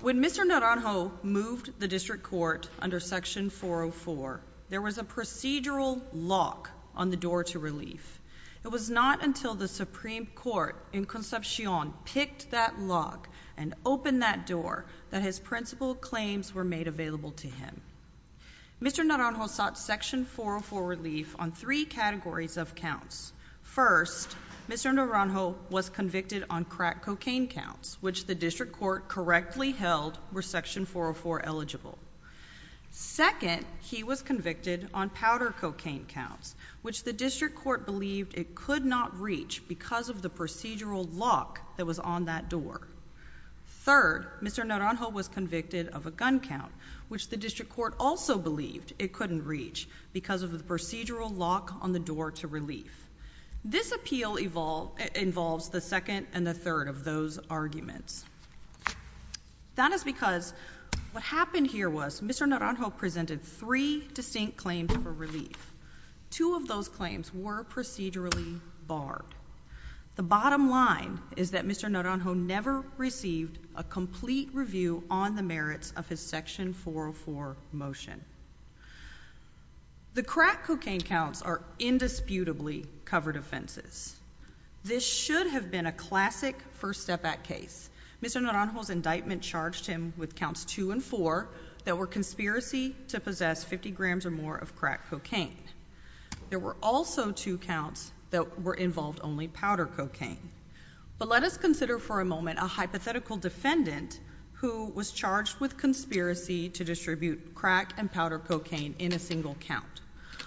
When Mr. Naranjo moved the district court under Section 404, there was a procedural lock on the door to relief. It was not until the Supreme Court in Concepcion picked that Mr. Naranjo sought Section 404 relief on three categories of counts. First, Mr. Naranjo was convicted on crack cocaine counts, which the district court correctly held were Section 404 eligible. Second, he was convicted on powder cocaine counts, which the district court believed it could not reach because of the procedural lock that was on that door. Third, Mr. Naranjo was convicted of a gun count, which the district court also believed it couldn't reach because of the procedural lock on the door to relief. This appeal involves the second and the third of those arguments. That is because what happened here was Mr. Naranjo presented three distinct claims for relief. Two of those claims were procedurally barred. The bottom line is that Mr. Naranjo never received a complete review on the merits of his Section 404 motion. The crack cocaine counts are indisputably covered offenses. This should have been a classic First Step Act case. Mr. Naranjo's indictment charged him with counts 2 and 4 that were conspiracy to possess 50 grams or more of crack cocaine. There were also two counts that were involved only powder cocaine. But let us consider for a moment a hypothetical defendant who was charged with conspiracy to distribute crack and powder cocaine in a single count.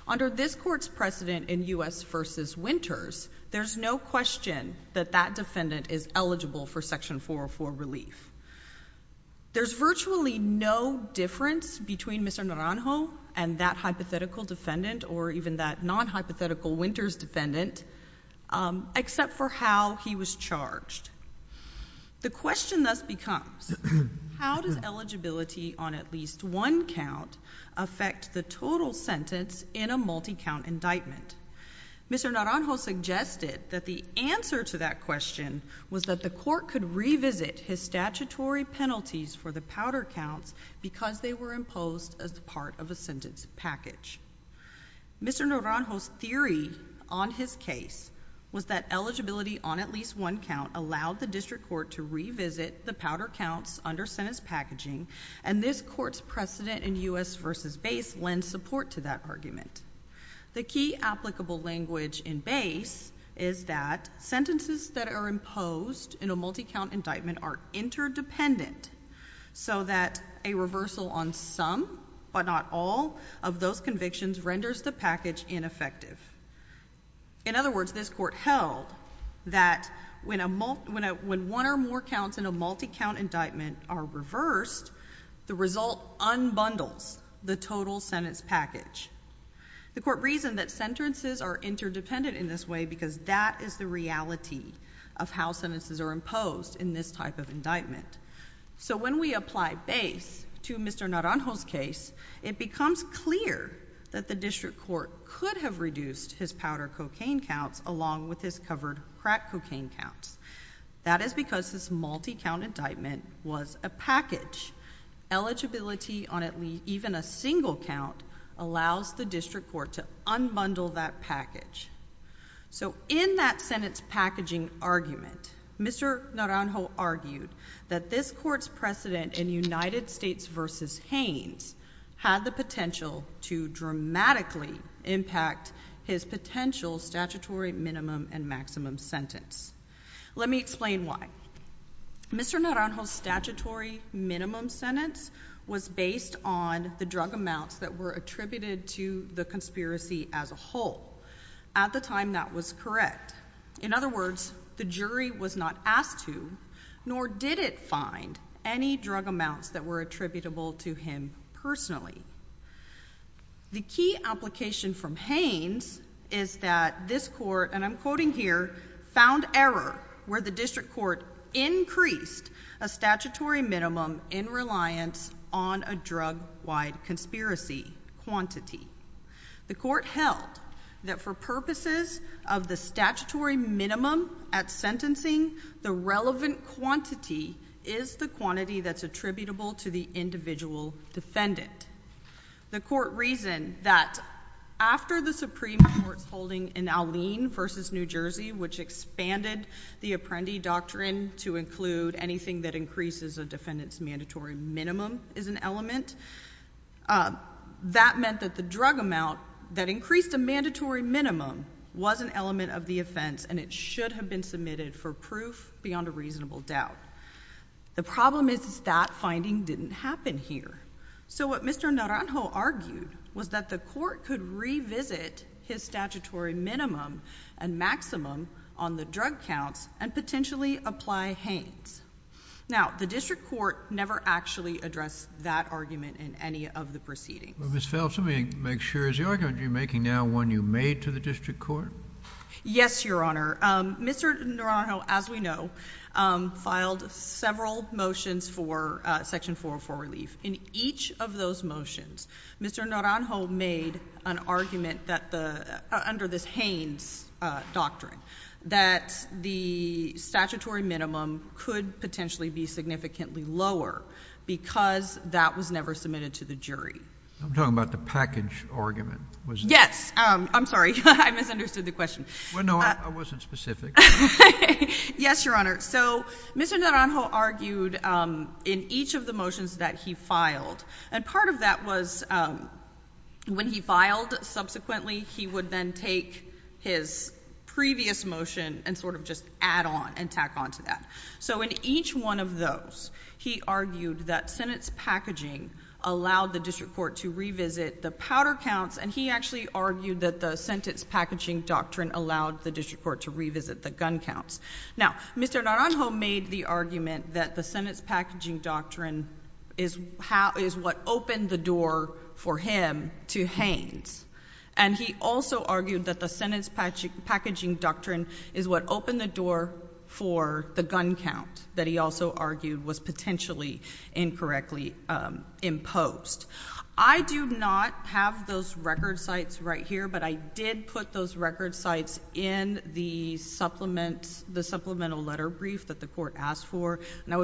Under this court's precedent in U.S. v. Winters, there's no question that that defendant is eligible for Section 404 relief. There's virtually no difference between Mr. Naranjo and that hypothetical defendant or even that non-hypothetical Winters defendant except for how he was charged. The question thus becomes, how does eligibility on at least one count affect the total sentence in a multi-count indictment? Mr. Naranjo suggested that the answer to that question was that the court could revisit his statutory penalties for the powder counts because they were imposed as part of a sentence package. Mr. Naranjo's theory on his case was that eligibility on at least one count allowed the district court to revisit the powder counts under sentence packaging, and this court's precedent in U.S. v. BASE lends support to that argument. The key applicable language in BASE is that sentences that are imposed in a multi-count indictment are interdependent so that a reversal on some, but not all, of those convictions renders the package ineffective. In other words, this court held that when one or more counts in a multi-count indictment are reversed, the result unbundles the total sentence package. The court reasoned that sentences are interdependent in this way because that is the reality of how sentences are imposed in this type of indictment. So when we apply BASE to Mr. Naranjo's case, it becomes clear that the district court could have reduced his powder cocaine counts along with his covered crack cocaine counts. That is because this multi-count indictment was a package. Eligibility on even a single count allows the district court to unbundle that package. So in that sentence packaging argument, Mr. Naranjo argued that this court's precedent in United States v. Haines had the potential to dramatically impact his potential statutory minimum and maximum sentence. Let me explain why. Mr. Naranjo's statutory minimum sentence was based on the drug amounts that were attributed to the conspiracy as a whole. At the time, that was correct. In other words, the jury was not asked to, nor did it find, any drug amounts that were attributable to him personally. The key application from Haines is that this court, and I'm quoting here, found error where the district court increased a statutory minimum in reliance on a drug wide conspiracy quantity. The court held that for purposes of the statutory minimum at sentencing, the relevant quantity is the quantity that's attributable to the individual defendant. The court reasoned that after the Supreme Court's holding in Alene v. New Jersey, which expanded the Apprendi Doctrine to include anything that increases a defendant's mandatory minimum as an element, that meant that the drug amount that increased a mandatory minimum was an element of the offense and it should have been submitted for proof beyond a reasonable doubt. The problem is that finding didn't happen here. What Mr. Naranjo argued was that the court could revisit his statutory minimum and maximum on the drug counts and potentially apply Haines. Now, the district court never actually addressed that argument in any of the proceedings. Well, Ms. Phelps, let me make sure. Is the argument you're making now one you made to the district court? Yes, Your Honor. Mr. Naranjo, as we know, filed several motions for Section 404 relief. In each of those motions, Mr. Naranjo made an argument that the, under this Haines doctrine, that the statutory minimum could potentially be significantly lower because that was never submitted to the jury. I'm talking about the package argument, was it? Yes. I'm sorry. I misunderstood the question. Well, no, I wasn't specific. Yes, Your Honor. So Mr. Naranjo argued in each of the motions that he filed, and part of that was when he filed subsequently, he would then take his previous motion and sort of just add on and tack on to that. So in each one of those, he argued that sentence packaging allowed the district court to revisit the powder counts, and he actually argued that the sentence packaging doctrine allowed the district court to revisit the gun counts. Now, Mr. Naranjo made the argument that the sentence packaging doctrine is what opened the door for him to Haines, and he also argued that the sentence packaging doctrine is what opened the door for the gun count that he also argued was potentially incorrectly imposed. I do not have those record sites right here, but I did put those record sites in the supplement letter brief that the court asked for, and I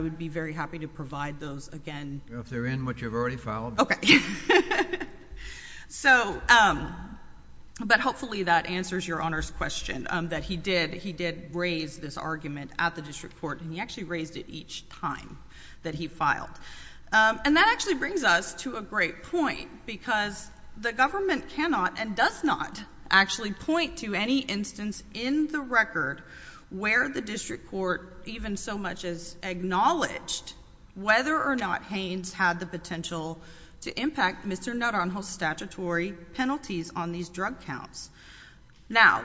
would be very happy to provide those again. Well, if they're in what you've already filed. Okay. But hopefully that answers Your Honor's question, that he did raise this argument at the district court, and he actually raised it each time that he filed. And that actually brings us to a great point, because the government cannot and does not actually point to any instance in the record where the district court even so much as acknowledged whether or not Haines had the potential to impact Mr. Naranjo's statutory penalties on these drug counts. Now,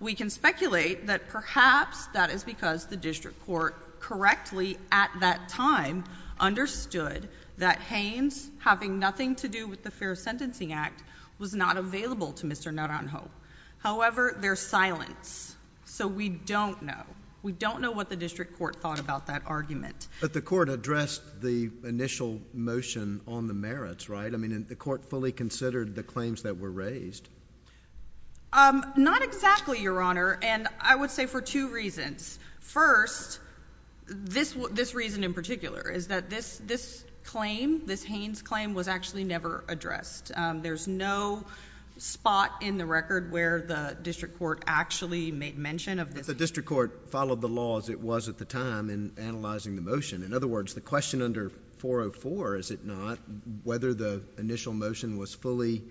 we can speculate that perhaps that is because the district court correctly at that time understood that Haines, having nothing to do with the Fair Sentencing Act, was not available to Mr. Naranjo. However, there's silence, so we don't know. We don't know what the district court thought about that argument. But the court addressed the initial motion on the merits, right? I mean, the court fully considered the claims that were raised. Not exactly, Your Honor, and I would say for two reasons. First, this reason in particular is that this claim, this Haines claim, was actually never addressed. There's no spot in the record where the district court actually made mention of this. But the district court followed the law as it was at the time in analyzing the motion. In other words, the question under 404, is it not, whether the initial motion was fully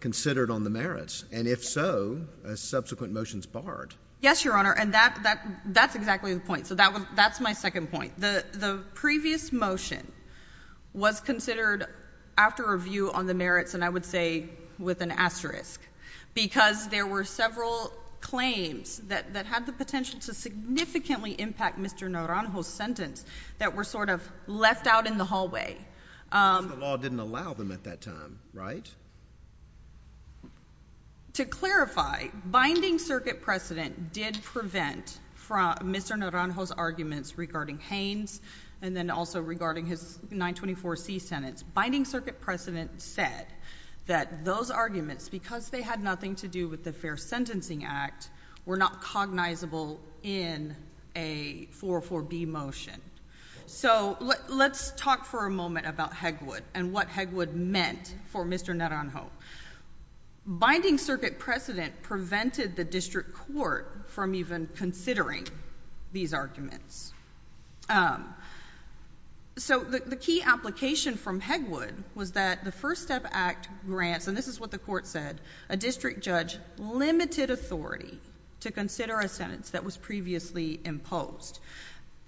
considered on the merits? And if so, are subsequent motions barred? Yes, Your Honor, and that's exactly the point. So that's my second point. The previous motion was considered after review on the merits, and I would say with an asterisk, because there were several claims that had the potential to significantly impact Mr. Naranjo's sentence that were sort of left out in the hallway. Because the law didn't allow them at that time, right? Correct. To clarify, binding circuit precedent did prevent Mr. Naranjo's arguments regarding Haines, and then also regarding his 924C sentence. Binding circuit precedent said that those arguments, because they had nothing to do with the Fair Sentencing Act, were not cognizable in a 404B motion. So let's talk for a moment about Hegwood and what Hegwood meant for Mr. Naranjo. Binding circuit precedent prevented the district court from even considering these arguments. So the key application from Hegwood was that the First Step Act grants, and this is what the court said, a district judge limited authority to consider a sentence that was previously imposed.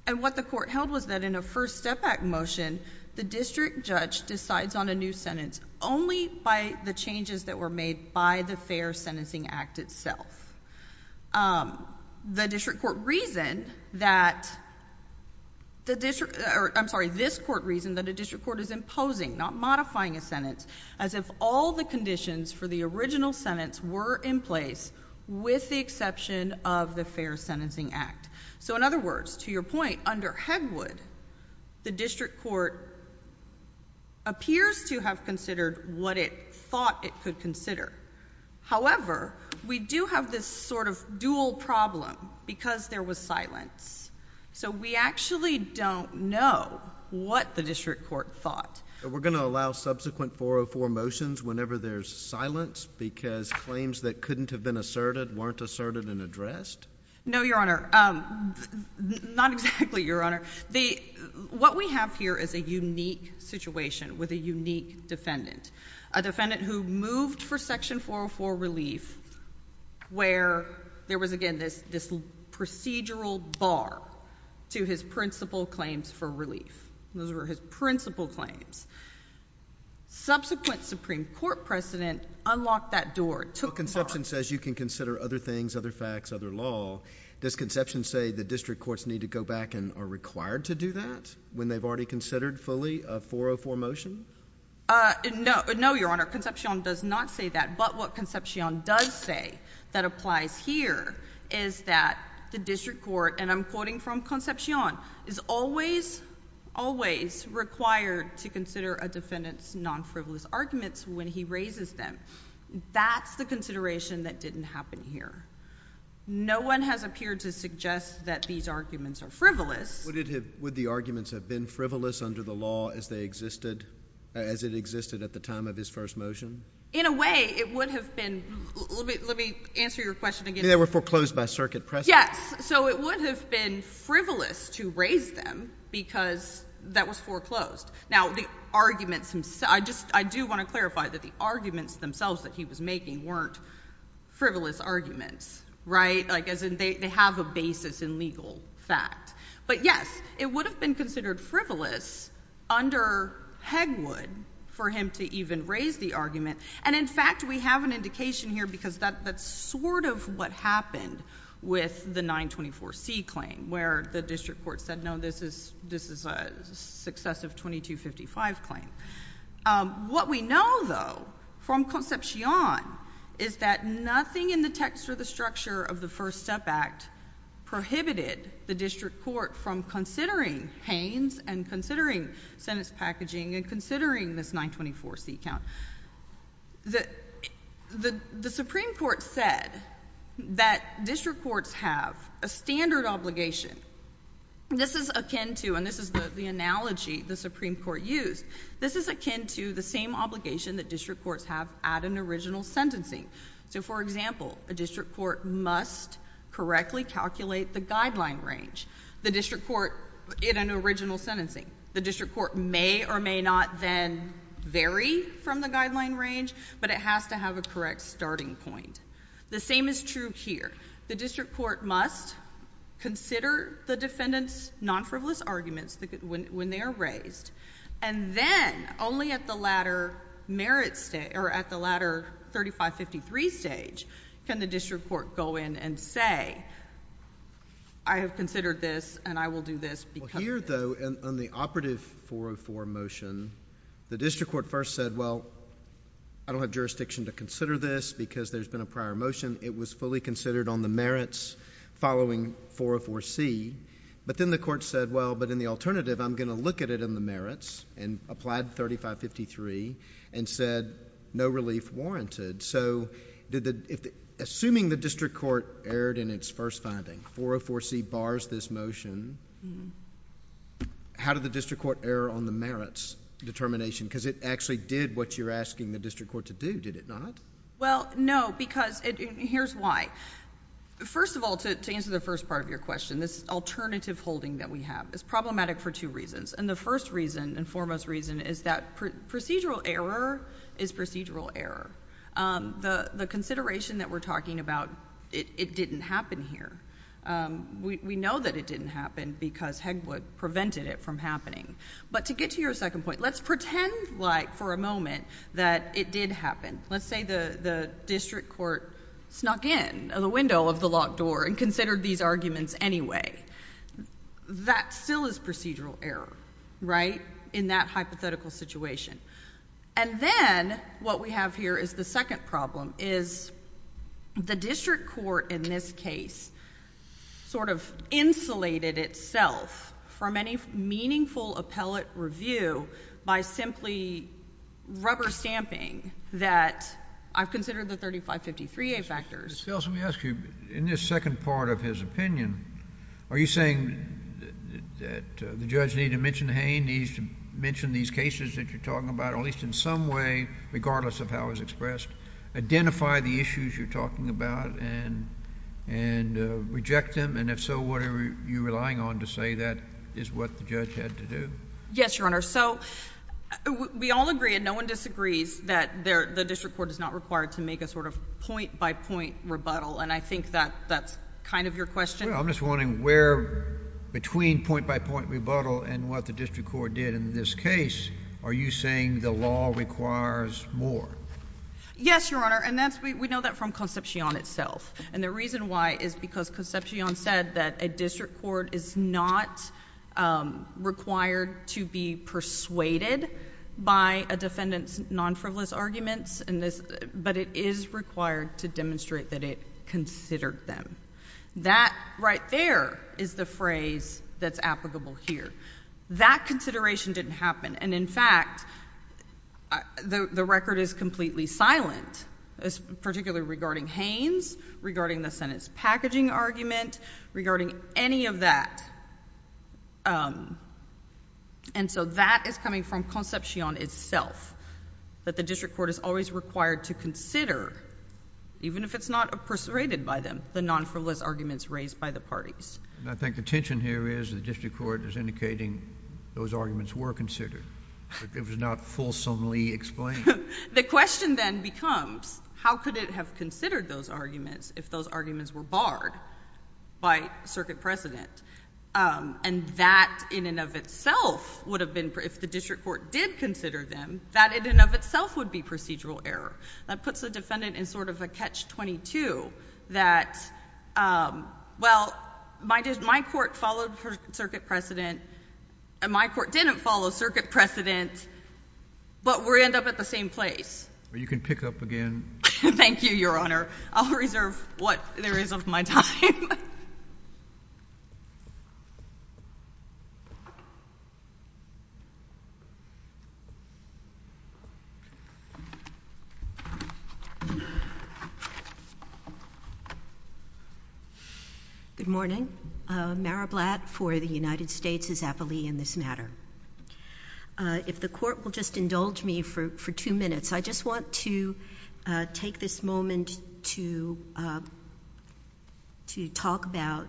And what the court held was that in a First Step Act motion, the district judge decides on a new sentence only by the changes that were made by the Fair Sentencing Act itself. The district court reasoned that, I'm sorry, this court reasoned that a district court is imposing, not modifying a sentence, as if all the conditions for the original Fair Sentencing Act. So in other words, to your point, under Hegwood, the district court appears to have considered what it thought it could consider. However, we do have this sort of dual problem, because there was silence. So we actually don't know what the district court thought. So we're going to allow subsequent 404 motions whenever there's silence, because claims that couldn't have been asserted weren't asserted and addressed? No, Your Honor. Not exactly, Your Honor. What we have here is a unique situation with a unique defendant, a defendant who moved for Section 404 relief where there was, again, this procedural bar to his principal claims for relief. Those were his principal claims. Subsequent Supreme Court precedent unlocked that door, took the bar. While Conception says you can consider other things, other facts, other law, does Conception say the district courts need to go back and are required to do that when they've already considered fully a 404 motion? No, Your Honor. Conception does not say that. But what Conception does say that applies here is that the district court, and I'm quoting from Conception, is always, always required to consider a defendant's non-frivolous arguments when he raises them. That's the consideration that didn't happen here. No one has appeared to suggest that these arguments are frivolous. Would the arguments have been frivolous under the law as they existed, as it existed at the time of his first motion? In a way, it would have been. Let me answer your question again. They were foreclosed by circuit precedent? Yes. So it would have been frivolous to raise them because that was foreclosed. Now, the arguments himself, I just, I do want to clarify that the arguments themselves that he was making weren't frivolous arguments, right? Like as in they have a basis in legal fact. But yes, it would have been considered frivolous under Hegwood for him to even raise the argument. And in fact, we have an indication here because that's sort of what happened with the 924C claim where the district court said, no, this is a successive 2255 claim. What we know, though, from Conception is that nothing in the text or the structure of the First Step Act prohibited the district court from considering Haynes and considering sentence packaging and considering this 924C count. The Supreme Court said that district courts have a standard obligation. This is akin to, and this is the analogy the Supreme Court used, this is akin to the same obligation that district courts have at an original sentencing. So for example, a district court must correctly calculate the guideline range. The district court, in an original sentencing, the district court may or may not then vary from the guideline range, but it has to have a correct starting point. The same is true here. The district court must consider the defendant's non-frivolous arguments when they are raised. And then only at the latter merit stage, or at the latter 3553 stage, can the district court go in and say, I have considered this and I will do this because of this. Here, though, on the operative 404 motion, the district court first said, well, I don't have jurisdiction to consider this because there's been a prior motion. It was fully considered on the merits following 404C. But then the court said, well, but in the alternative, I'm going to look at it in the merits and applied 3553 and said no relief warranted. So assuming the district court erred in its first finding, 404C bars this motion. How did the district court err on the merits determination? Because it actually did what you're asking the district court to do, did it not? Well, no, because here's why. First of all, to answer the first part of your question, this alternative holding that we have is problematic for two reasons. And the first reason and foremost reason is that procedural error is procedural error. The consideration that we're having is procedural error. And so we can't say that we prevented it from happening. But to get to your second point, let's pretend like for a moment that it did happen. Let's say the district court snuck in the window of the locked door and considered these arguments anyway. That still is procedural error, right, in that hypothetical situation. And then what we have here is the second problem is the district court in this case sort of insulated itself from any meaningful appellate review by simply rubber stamping that I've considered the 3553A factors. Miss Felsen, let me ask you, in this second part of his opinion, are you saying that the judge needs to mention Hain, needs to mention these cases that you're talking about at least in some way, regardless of how it was expressed, identify the issues you're talking about and reject them? And if so, what are you relying on to say that is what the judge had to do? Yes, Your Honor. So we all agree and no one disagrees that the district court is not required to make a sort of point-by-point rebuttal. And I think that that's kind of your question. Well, I'm just wondering where between point-by-point rebuttal and what the district court did in this case, are you saying the law requires more? Yes, Your Honor. And that's, we know that from Concepcion itself. And the reason why is because Concepcion said that a district court is not required to be persuaded by a defendant's non-frivolous arguments, but it is required to demonstrate that it considered them. That right there is the phrase that's applicable here. That consideration didn't happen. And in fact, the record is completely silent, particularly regarding Hain's, regarding the sentence packaging argument, regarding any of that. And so that is coming from Concepcion itself, that the district court is always required to consider, even if it's not persuaded by them, the non-frivolous arguments raised by the parties. And I think the tension here is the district court is indicating those arguments were considered, but it was not fulsomely explained. The question then becomes, how could it have considered those arguments if those arguments were barred by circuit precedent? And that in and of itself would have been, if the district court did consider them, that in and of itself would be procedural error. That puts the defendant in sort of a catch-22 that, well, my court followed circuit precedent, and my court didn't follow circuit precedent, but we end up at the same place. You can pick up again. Thank you, Your Honor. I'll reserve what there is of my time. Good morning. Mara Blatt for the United States is aptly in this matter. If the court will just indulge me for two minutes, I just want to take this moment to talk about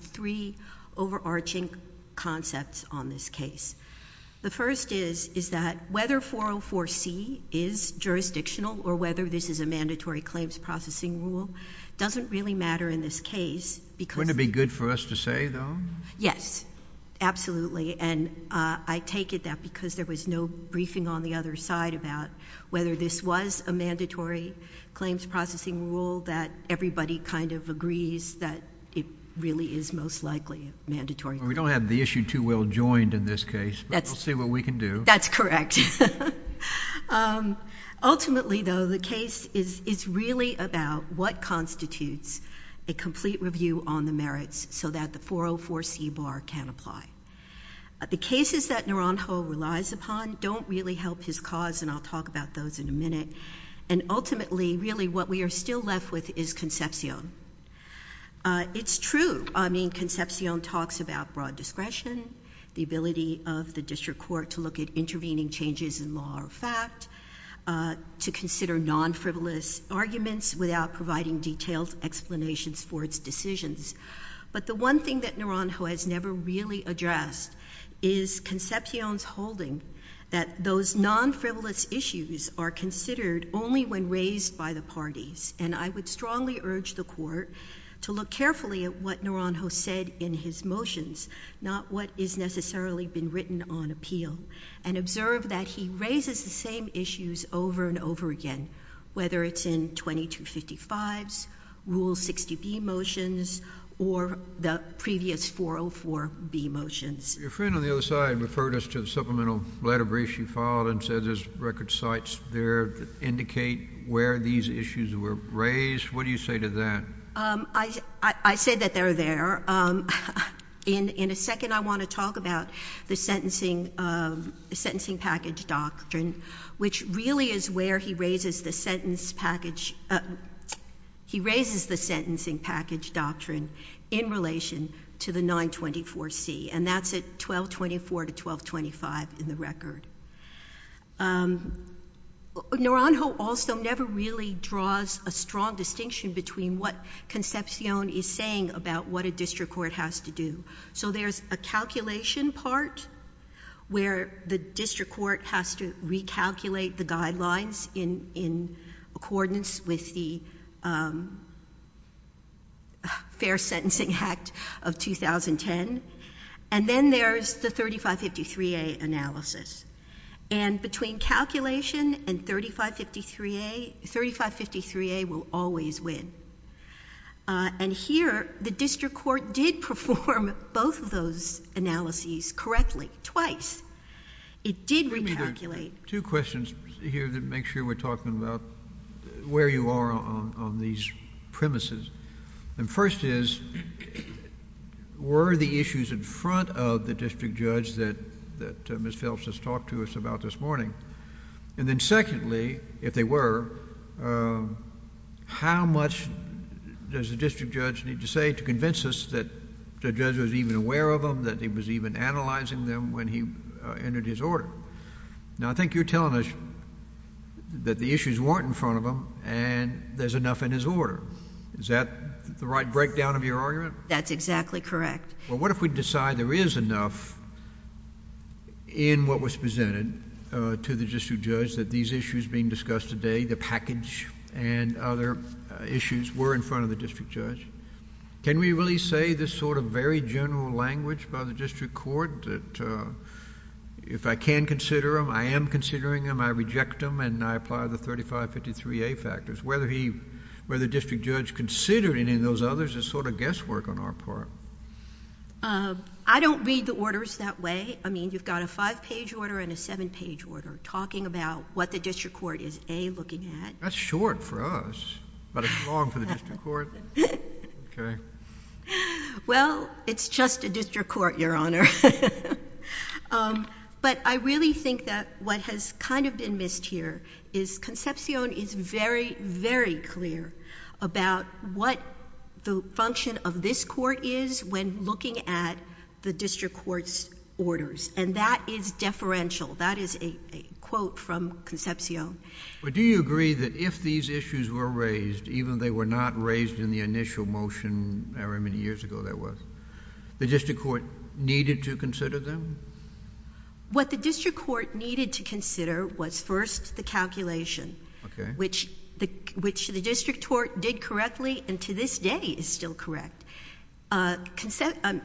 three of the most overarching concepts on this case. The first is, is that whether 404C is jurisdictional or whether this is a mandatory claims processing rule doesn't really matter in this case because Wouldn't it be good for us to say, though? Yes, absolutely. And I take it that because there was no briefing on the other side about whether this was a mandatory claims processing rule, that everybody kind of agrees that it really is most likely a mandatory claim. We don't have the issue too well joined in this case, but we'll see what we can do. That's correct. Ultimately, though, the case is really about what constitutes a complete review on the merits so that the 404C bar can apply. The cases that Naranjo relies upon don't really help his cause, and I'll talk about those in a minute. And ultimately, really, what we are still left with is Concepcion. It's true, I mean, Concepcion talks about broad discretion, the ability of the district court to look at intervening changes in law or fact, to consider non-frivolous arguments without providing detailed explanations for its decisions. But the one thing that Naranjo has never really addressed is Concepcion's non-frivolous issues are considered only when raised by the parties. And I would strongly urge the Court to look carefully at what Naranjo said in his motions, not what is necessarily been written on appeal, and observe that he raises the same issues over and over again, whether it's in 2255s, Rule 60B motions, or the previous 404B motions. Your friend on the other side referred us to the supplemental letter brief you filed and said there's record sites there that indicate where these issues were raised. What do you say to that? I say that they're there. In a second, I want to talk about the sentencing package doctrine, which really is where he raises the sentencing package doctrine in relation to the 924C. And that's at 1224 to 1225 in the record. Naranjo also never really draws a strong distinction between what Concepcion is saying about what a district court has to do. So there's a calculation part where the district court has to recalculate the guidelines in accordance with the fair and then there's the 3553A analysis. And between calculation and 3553A, 3553A will always win. And here, the district court did perform both of those analyses correctly twice. It did recalculate. Two questions here to make sure we're talking about where you are on these premises. And the first is, were the issues in front of the district judge that Ms. Phelps has talked to us about this morning? And then secondly, if they were, how much does the district judge need to say to convince us that the judge was even aware of them, that he was even analyzing them when he entered his order? Now I think you're telling us that the issues weren't in front of him and there's enough in his order. Is that the right breakdown of your argument? That's exactly correct. Well, what if we decide there is enough in what was presented to the district judge that these issues being discussed today, the package and other issues, were in front of the district judge? Can we really say this sort of very general language by the district court that if I can consider them, I am considering them, I reject them, and I apply the 3553A factors? Whether the district judge considered any of those others is sort of guesswork on our part. I don't read the orders that way. I mean, you've got a five-page order and a seven-page order talking about what the district court is, A, looking at. That's short for us, but it's long for the district court. Well, it's just a district court, Your Honor. But I really think that what has kind of been missed here is Concepcion is very, very clear about what the function of this court is when looking at the district court's orders, and that is deferential. That is a quote from Concepcion. Do you agree that if these issues were raised, even if they were not raised in the initial motion, however many years ago that was, the district court needed to consider them? What the district court needed to consider was first the calculation, which the district court did correctly and to this day is still correct. Concepcion,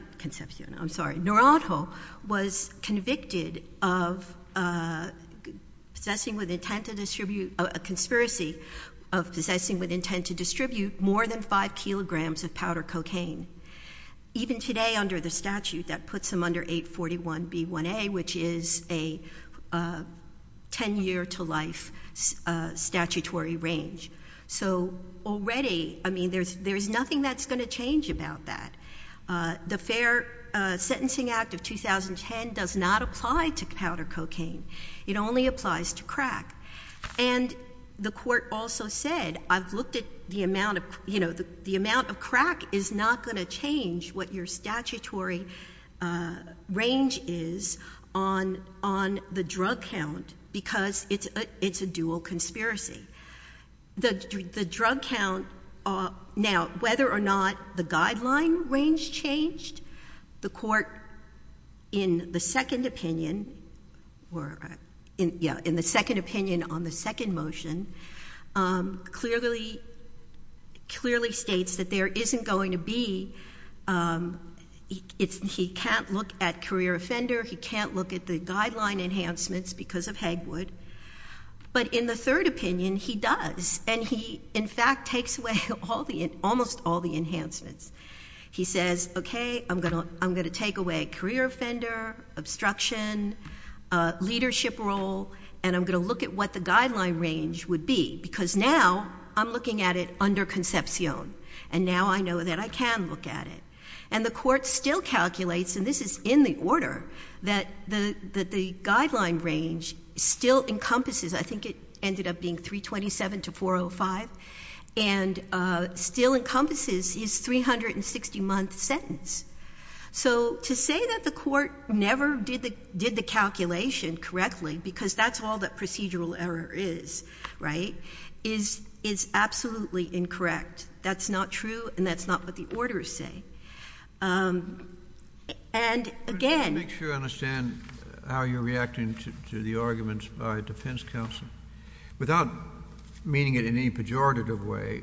I'm sorry, Naranjo was convicted of possessing with intent to distribute, a conspiracy of possessing with intent to distribute more than 5 kilograms of powder B-1A, which is a 10-year-to-life statutory range. So already, I mean, there's nothing that's going to change about that. The Fair Sentencing Act of 2010 does not apply to powder cocaine. It only applies to crack. And the court also said, I've looked at the amount of, you know, the amount of crack is not going to change what your statutory range is on the drug count because it's a dual conspiracy. The drug count, now, whether or not the guideline range changed, the court in the second opinion or, yeah, in the second opinion on the second motion, clearly states that there isn't going to be, he can't look at career offender, he can't look at the guideline enhancements because of Hegwood. But in the third opinion, he does. And he, in fact, takes away almost all the discretion, leadership role, and I'm going to look at what the guideline range would be because now I'm looking at it under conception. And now I know that I can look at it. And the court still calculates, and this is in the order, that the guideline range still encompasses, I think it ended up being 327 to 405, and still encompasses his 360-month sentence. So to say that the court never did the calculation correctly, because that's all that procedural error is, right, is absolutely incorrect. That's not true, and that's not what the orders say. And, again — JUSTICE KENNEDY Make sure I understand how you're reacting to the arguments by defense counsel. Without meaning it in any pejorative way,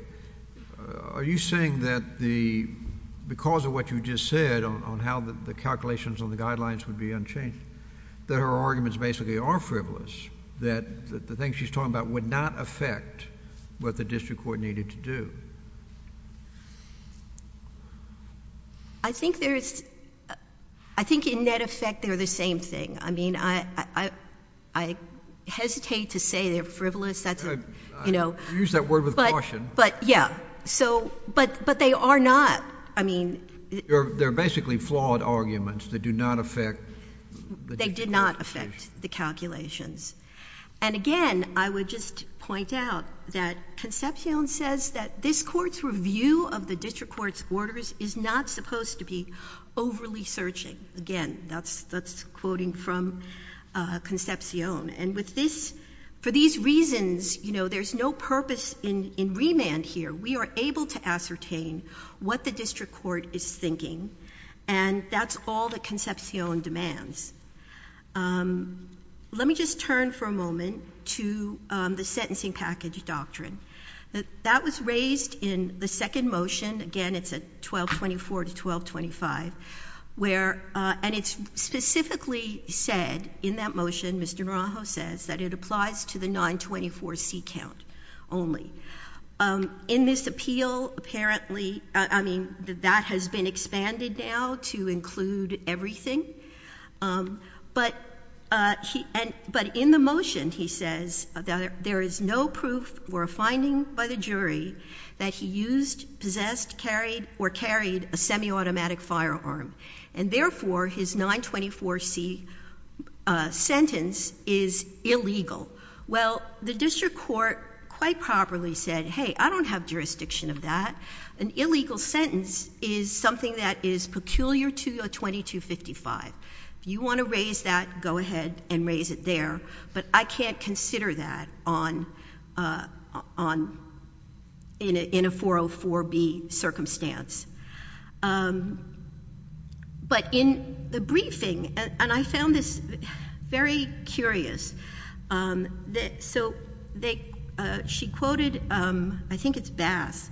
are you saying that the — because of what you just said on how the calculations on the guidelines would be unchanged, that her arguments basically are frivolous, that the things she's talking about would not affect what the district court needed to do? MS. GOTTLIEB I think there's — I think in net effect they're the same thing. I mean, I hesitate to say they're frivolous. That's a, you know — JUSTICE KENNEDY I use that word with caution. MS. GOTTLIEB But, yeah. So — but they are not. I mean — JUSTICE KENNEDY They're basically flawed arguments that do not affect the district court's decision. MS. GOTTLIEB They did not affect the calculations. And, again, I would just point out that Concepcion says that this Court's review of the district court's orders is not supposed to be overly searching. Again, that's quoting from Concepcion. And with this — for these reasons, you know, there's no purpose in — in remand here. We are able to ascertain what the district court is thinking, and that's all that Concepcion demands. Let me just turn for a moment to the sentencing package doctrine. That was raised in the second motion. Again, it's at 1224 to 1225, where — and it's specifically said in that motion Mr. Naranjo says that it applies to the 924C count only. In this appeal, apparently — I mean, that has been expanded now to include everything. But he — but in the motion, he says that there is no proof or a finding by the jury that he used, possessed, carried, or carried a semi-automatic firearm. And, therefore, his 924C sentence is illegal. Well, the district court quite properly said, hey, I don't have jurisdiction of that. An illegal sentence is something that is peculiar to your 2255. If you want to raise that, go ahead and raise it there. But I can't consider that on — in a 404B circumstance. But in the briefing — and I found this very curious. So they — she quoted — I think it's Bass,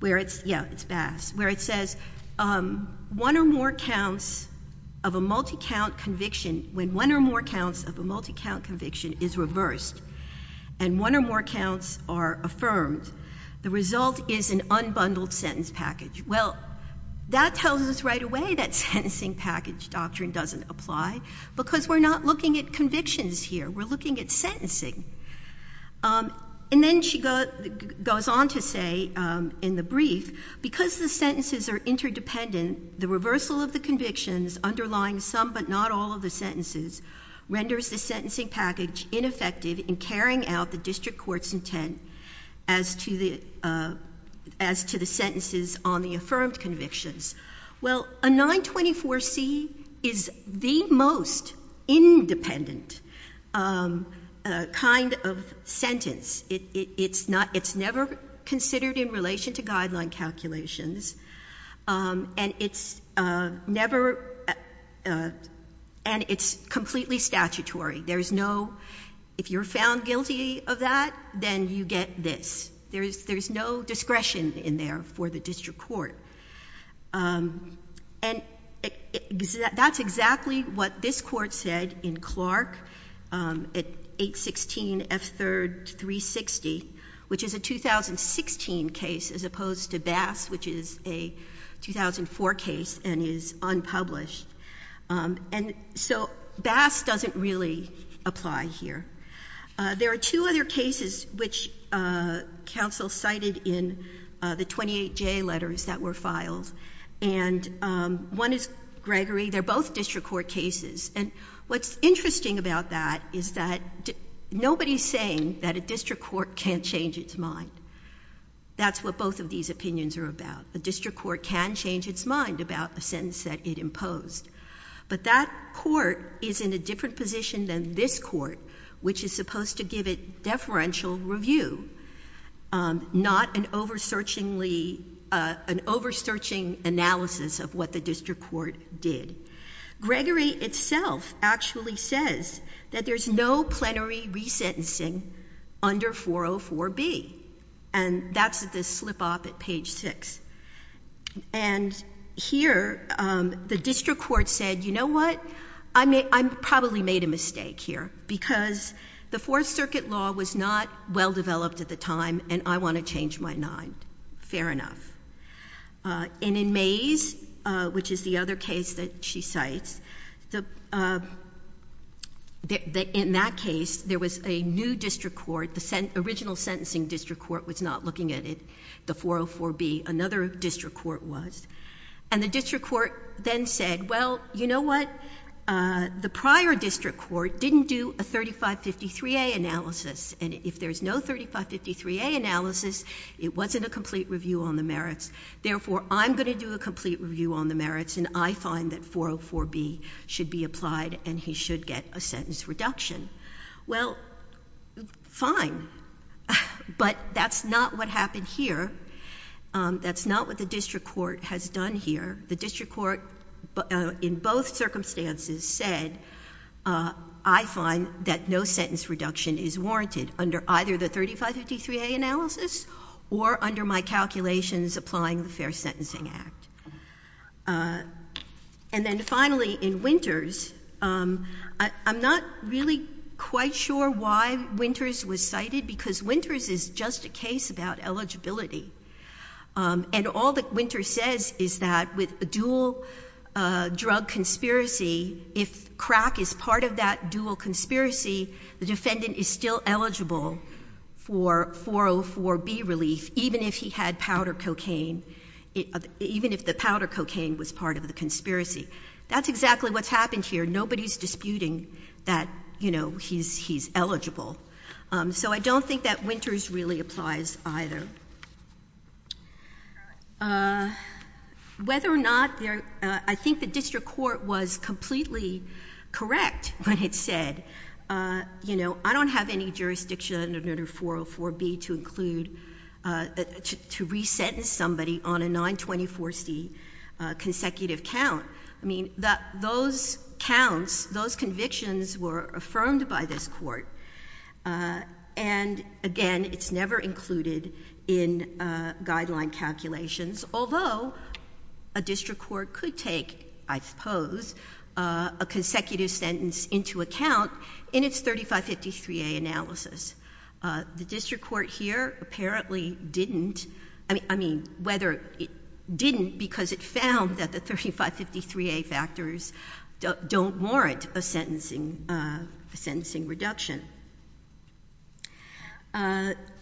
where it's — yeah, it's Bass — where it says, one or more counts of a multi-count conviction, when one or more counts of a multi-count conviction is reversed and one or more counts are affirmed, the result is an unbundled sentence package. Well, that tells us right away that sentencing package doctrine doesn't apply, because we're not looking at convictions here. We're looking at sentencing. And then she goes on to say in the brief, because the sentences are interdependent, the reversal of the convictions underlying some but not all of the sentences renders the sentencing package ineffective in carrying out the district court's intent as to the sentences on the affirmed convictions. Well, a 924C is the most independent kind of sentence. It's not — it's never considered in relation to guideline calculations, and it's never — and it's completely statutory. There's no — if you're found guilty of that, then you get this. There's no discretion in there for the district court. That's exactly what this Court said in Clark at 816 F. 3rd. 360, which is a 2016 case as we published. And so Bass doesn't really apply here. There are two other cases which counsel cited in the 28J letters that were filed, and one is Gregory. They're both district court cases. And what's interesting about that is that nobody's saying that a district court can't change its mind. That's what both of these opinions are about. A district court can change its mind about the sentence that it imposed. But that court is in a different position than this court, which is supposed to give it deferential review, not an over-searching analysis of what the district court did. Gregory itself actually says that there's no plenary resentencing under 404B, and that's this slip-off at page 6. And here, the district court said, you know what, I probably made a mistake here because the Fourth Circuit law was not well-developed at the time, and I want to change my mind. Fair enough. And in Mays, which is the other case that she cites, in that case, there was a new district court. The original sentencing district court was not looking at it, the district court was. And the district court then said, well, you know what, the prior district court didn't do a 3553A analysis, and if there's no 3553A analysis, it wasn't a complete review on the merits. Therefore, I'm going to do a complete review on the merits, and I find that 404B should be applied, and he should get a sentence reduction. Well, fine. But that's not what happened here. That's not what the district court said. What the district court has done here, the district court, in both circumstances, said, I find that no sentence reduction is warranted under either the 3553A analysis or under my calculations applying the Fair Sentencing Act. And then finally, in Winters, I'm not really quite sure why Winters was cited, because all that Winters says is that with a dual drug conspiracy, if crack is part of that dual conspiracy, the defendant is still eligible for 404B relief, even if he had powder cocaine, even if the powder cocaine was part of the conspiracy. That's exactly what's happened here. Nobody's disputing that, you know, he's eligible. So I don't think that Winters really applies either. Whether or not there — I think the district court was completely correct when it said, you know, I don't have any jurisdiction under 404B to include — to re-sentence somebody on a 924C consecutive count. I mean, those counts, those convictions were affirmed by this court. And again, it's never included in guideline calculations, although a district court could take, I suppose, a consecutive sentence into account in its 3553A analysis. The district court here apparently didn't — I mean, whether it didn't because it found that the 3553A factors don't warrant a sentencing reduction.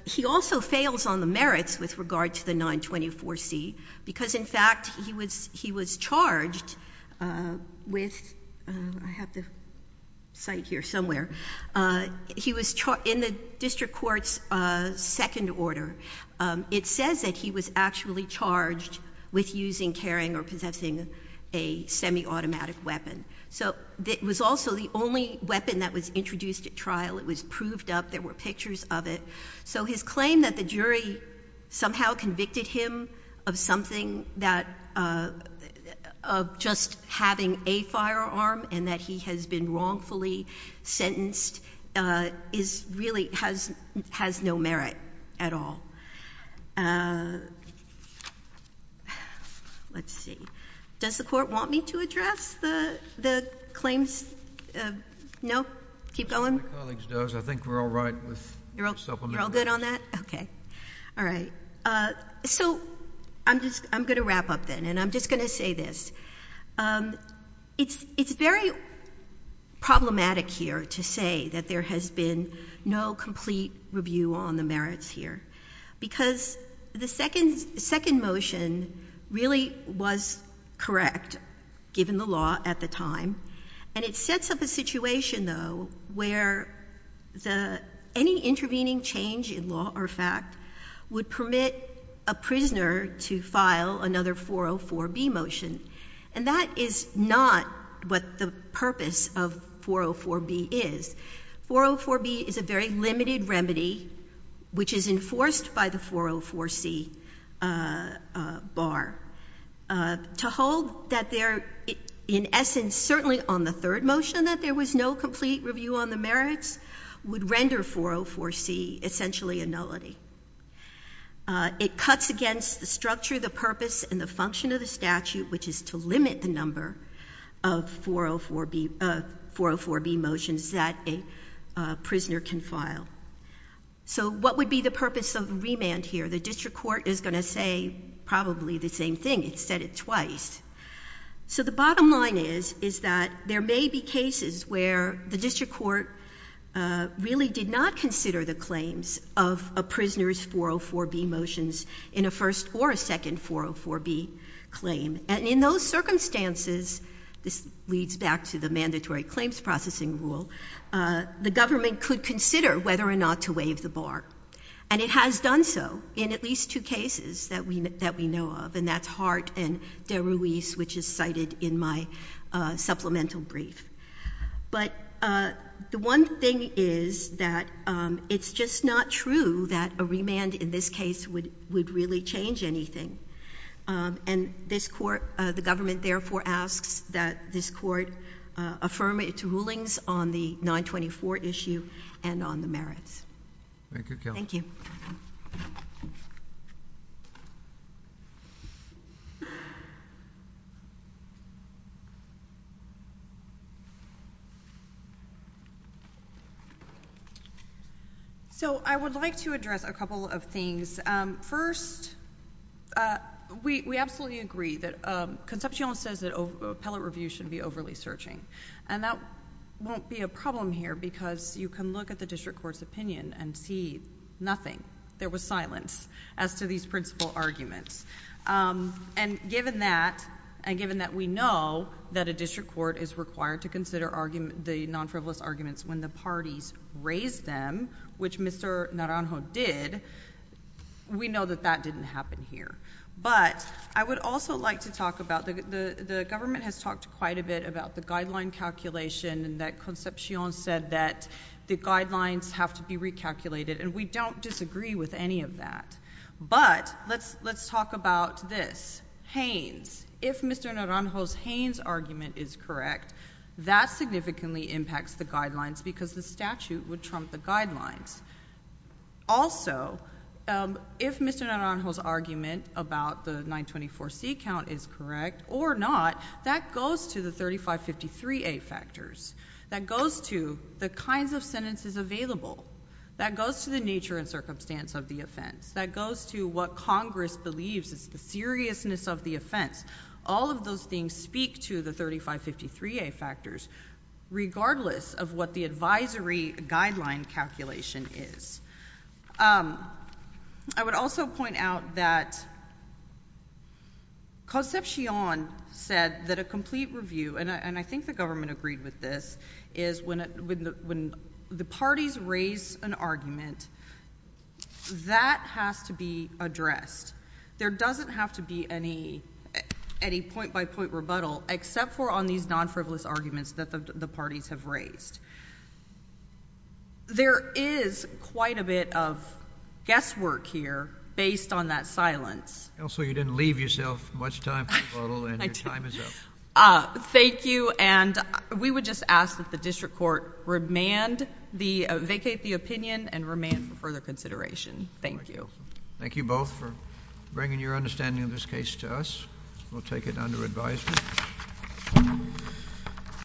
He also fails on the merits with regard to the 924C, because in fact he was charged with — I have the site here somewhere — he was — in the district court's second order, it says that he was actually charged with using, carrying, or possessing a semiautomatic weapon. So it was also the only weapon that was introduced at trial. It was proved up. There were pictures of it. So his claim that the jury somehow convicted him of something that — of just having a firearm and that he has been wrongfully sentenced is really — has no merit at all. Let's see. Does the Court want me to address the claims? No? Keep going? My colleague does. I think we're all right with the supplementary. You're all good on that? Okay. All right. So I'm just — I'm going to wrap up then, and I'm just going to say this. It's very problematic here to say that there has been no complete review on the merits here, because the second motion really was correct, given the law at the time. And it sets up a situation, though, where any intervening change in law or fact would permit a prisoner to file another 404B motion. And that is not what the purpose of 404B is. 404B is a very limited remedy, which is enforced by the 404C bar. To hold that there — in essence, certainly on the third motion, that there was no complete review on the merits would render 404C essentially a nullity. It cuts against the structure, the purpose, and the function of the statute, which is to limit the number of 404B motions that a prisoner can file. So what would be the purpose of remand here? The District Court is going to say probably the same thing. It said it twice. So the bottom line is, is that there may be cases where the District Court really did not consider the claims of a prisoner's 404B motions in a first or a second 404B claim. And in those circumstances, this leads back to the mandatory claims processing rule, the government could consider whether or not to waive the bar. And it has done so in at least two cases that we know of, and that's Hart and De Ruiz, which is cited in my supplemental brief. But the one thing is that it's just not true that a remand in this case would really change anything. And this Court, the government therefore asks that this Court affirm its rulings on the 924 issue and on the merits. Thank you, Kelly. So I would like to address a couple of things. First, we absolutely agree that Concepcion says that appellate review should be overly searching. And that won't be a problem here because you can look at the District Court's opinion and see nothing. There was silence as to these principal arguments. And given that, and given that we know that a District Court is required to consider the non-frivolous arguments when the parties raise them, which Mr. Naranjo did, we know that that didn't happen here. But I would also like to talk about, the government has talked quite a bit about the guideline calculation and that Concepcion said that the guidelines have to be recalculated. And we don't disagree with any of that. But let's talk about this. Haynes, if Mr. Naranjo's Haynes argument is correct, that significantly impacts the guidelines because the statute would trump the guidelines. Also, if Mr. Naranjo's argument about the 924C count is correct or not, that goes to the 3553A factors. That goes to the kinds of sentences available. That goes to the nature and circumstance of the offense. That goes to what Congress believes is the seriousness of the offense. All of those things speak to the 3553A factors, regardless of what the advisory guideline calculation is. I would also point out that Concepcion said that a complete review, and I think the government agreed with this, is when the parties raise an argument, that has to be addressed. There doesn't have to be any point-by-point rebuttal except for on these non-frivolous arguments that the parties have raised. There is quite a bit of guesswork here based on that silence. Also, you didn't leave yourself much time for rebuttal, and your time is up. Thank you, and we would just ask that the district court vacate the opinion and remand for further consideration. Thank you. Thank you both for bringing your understanding of this case to us. We'll take it under advisement.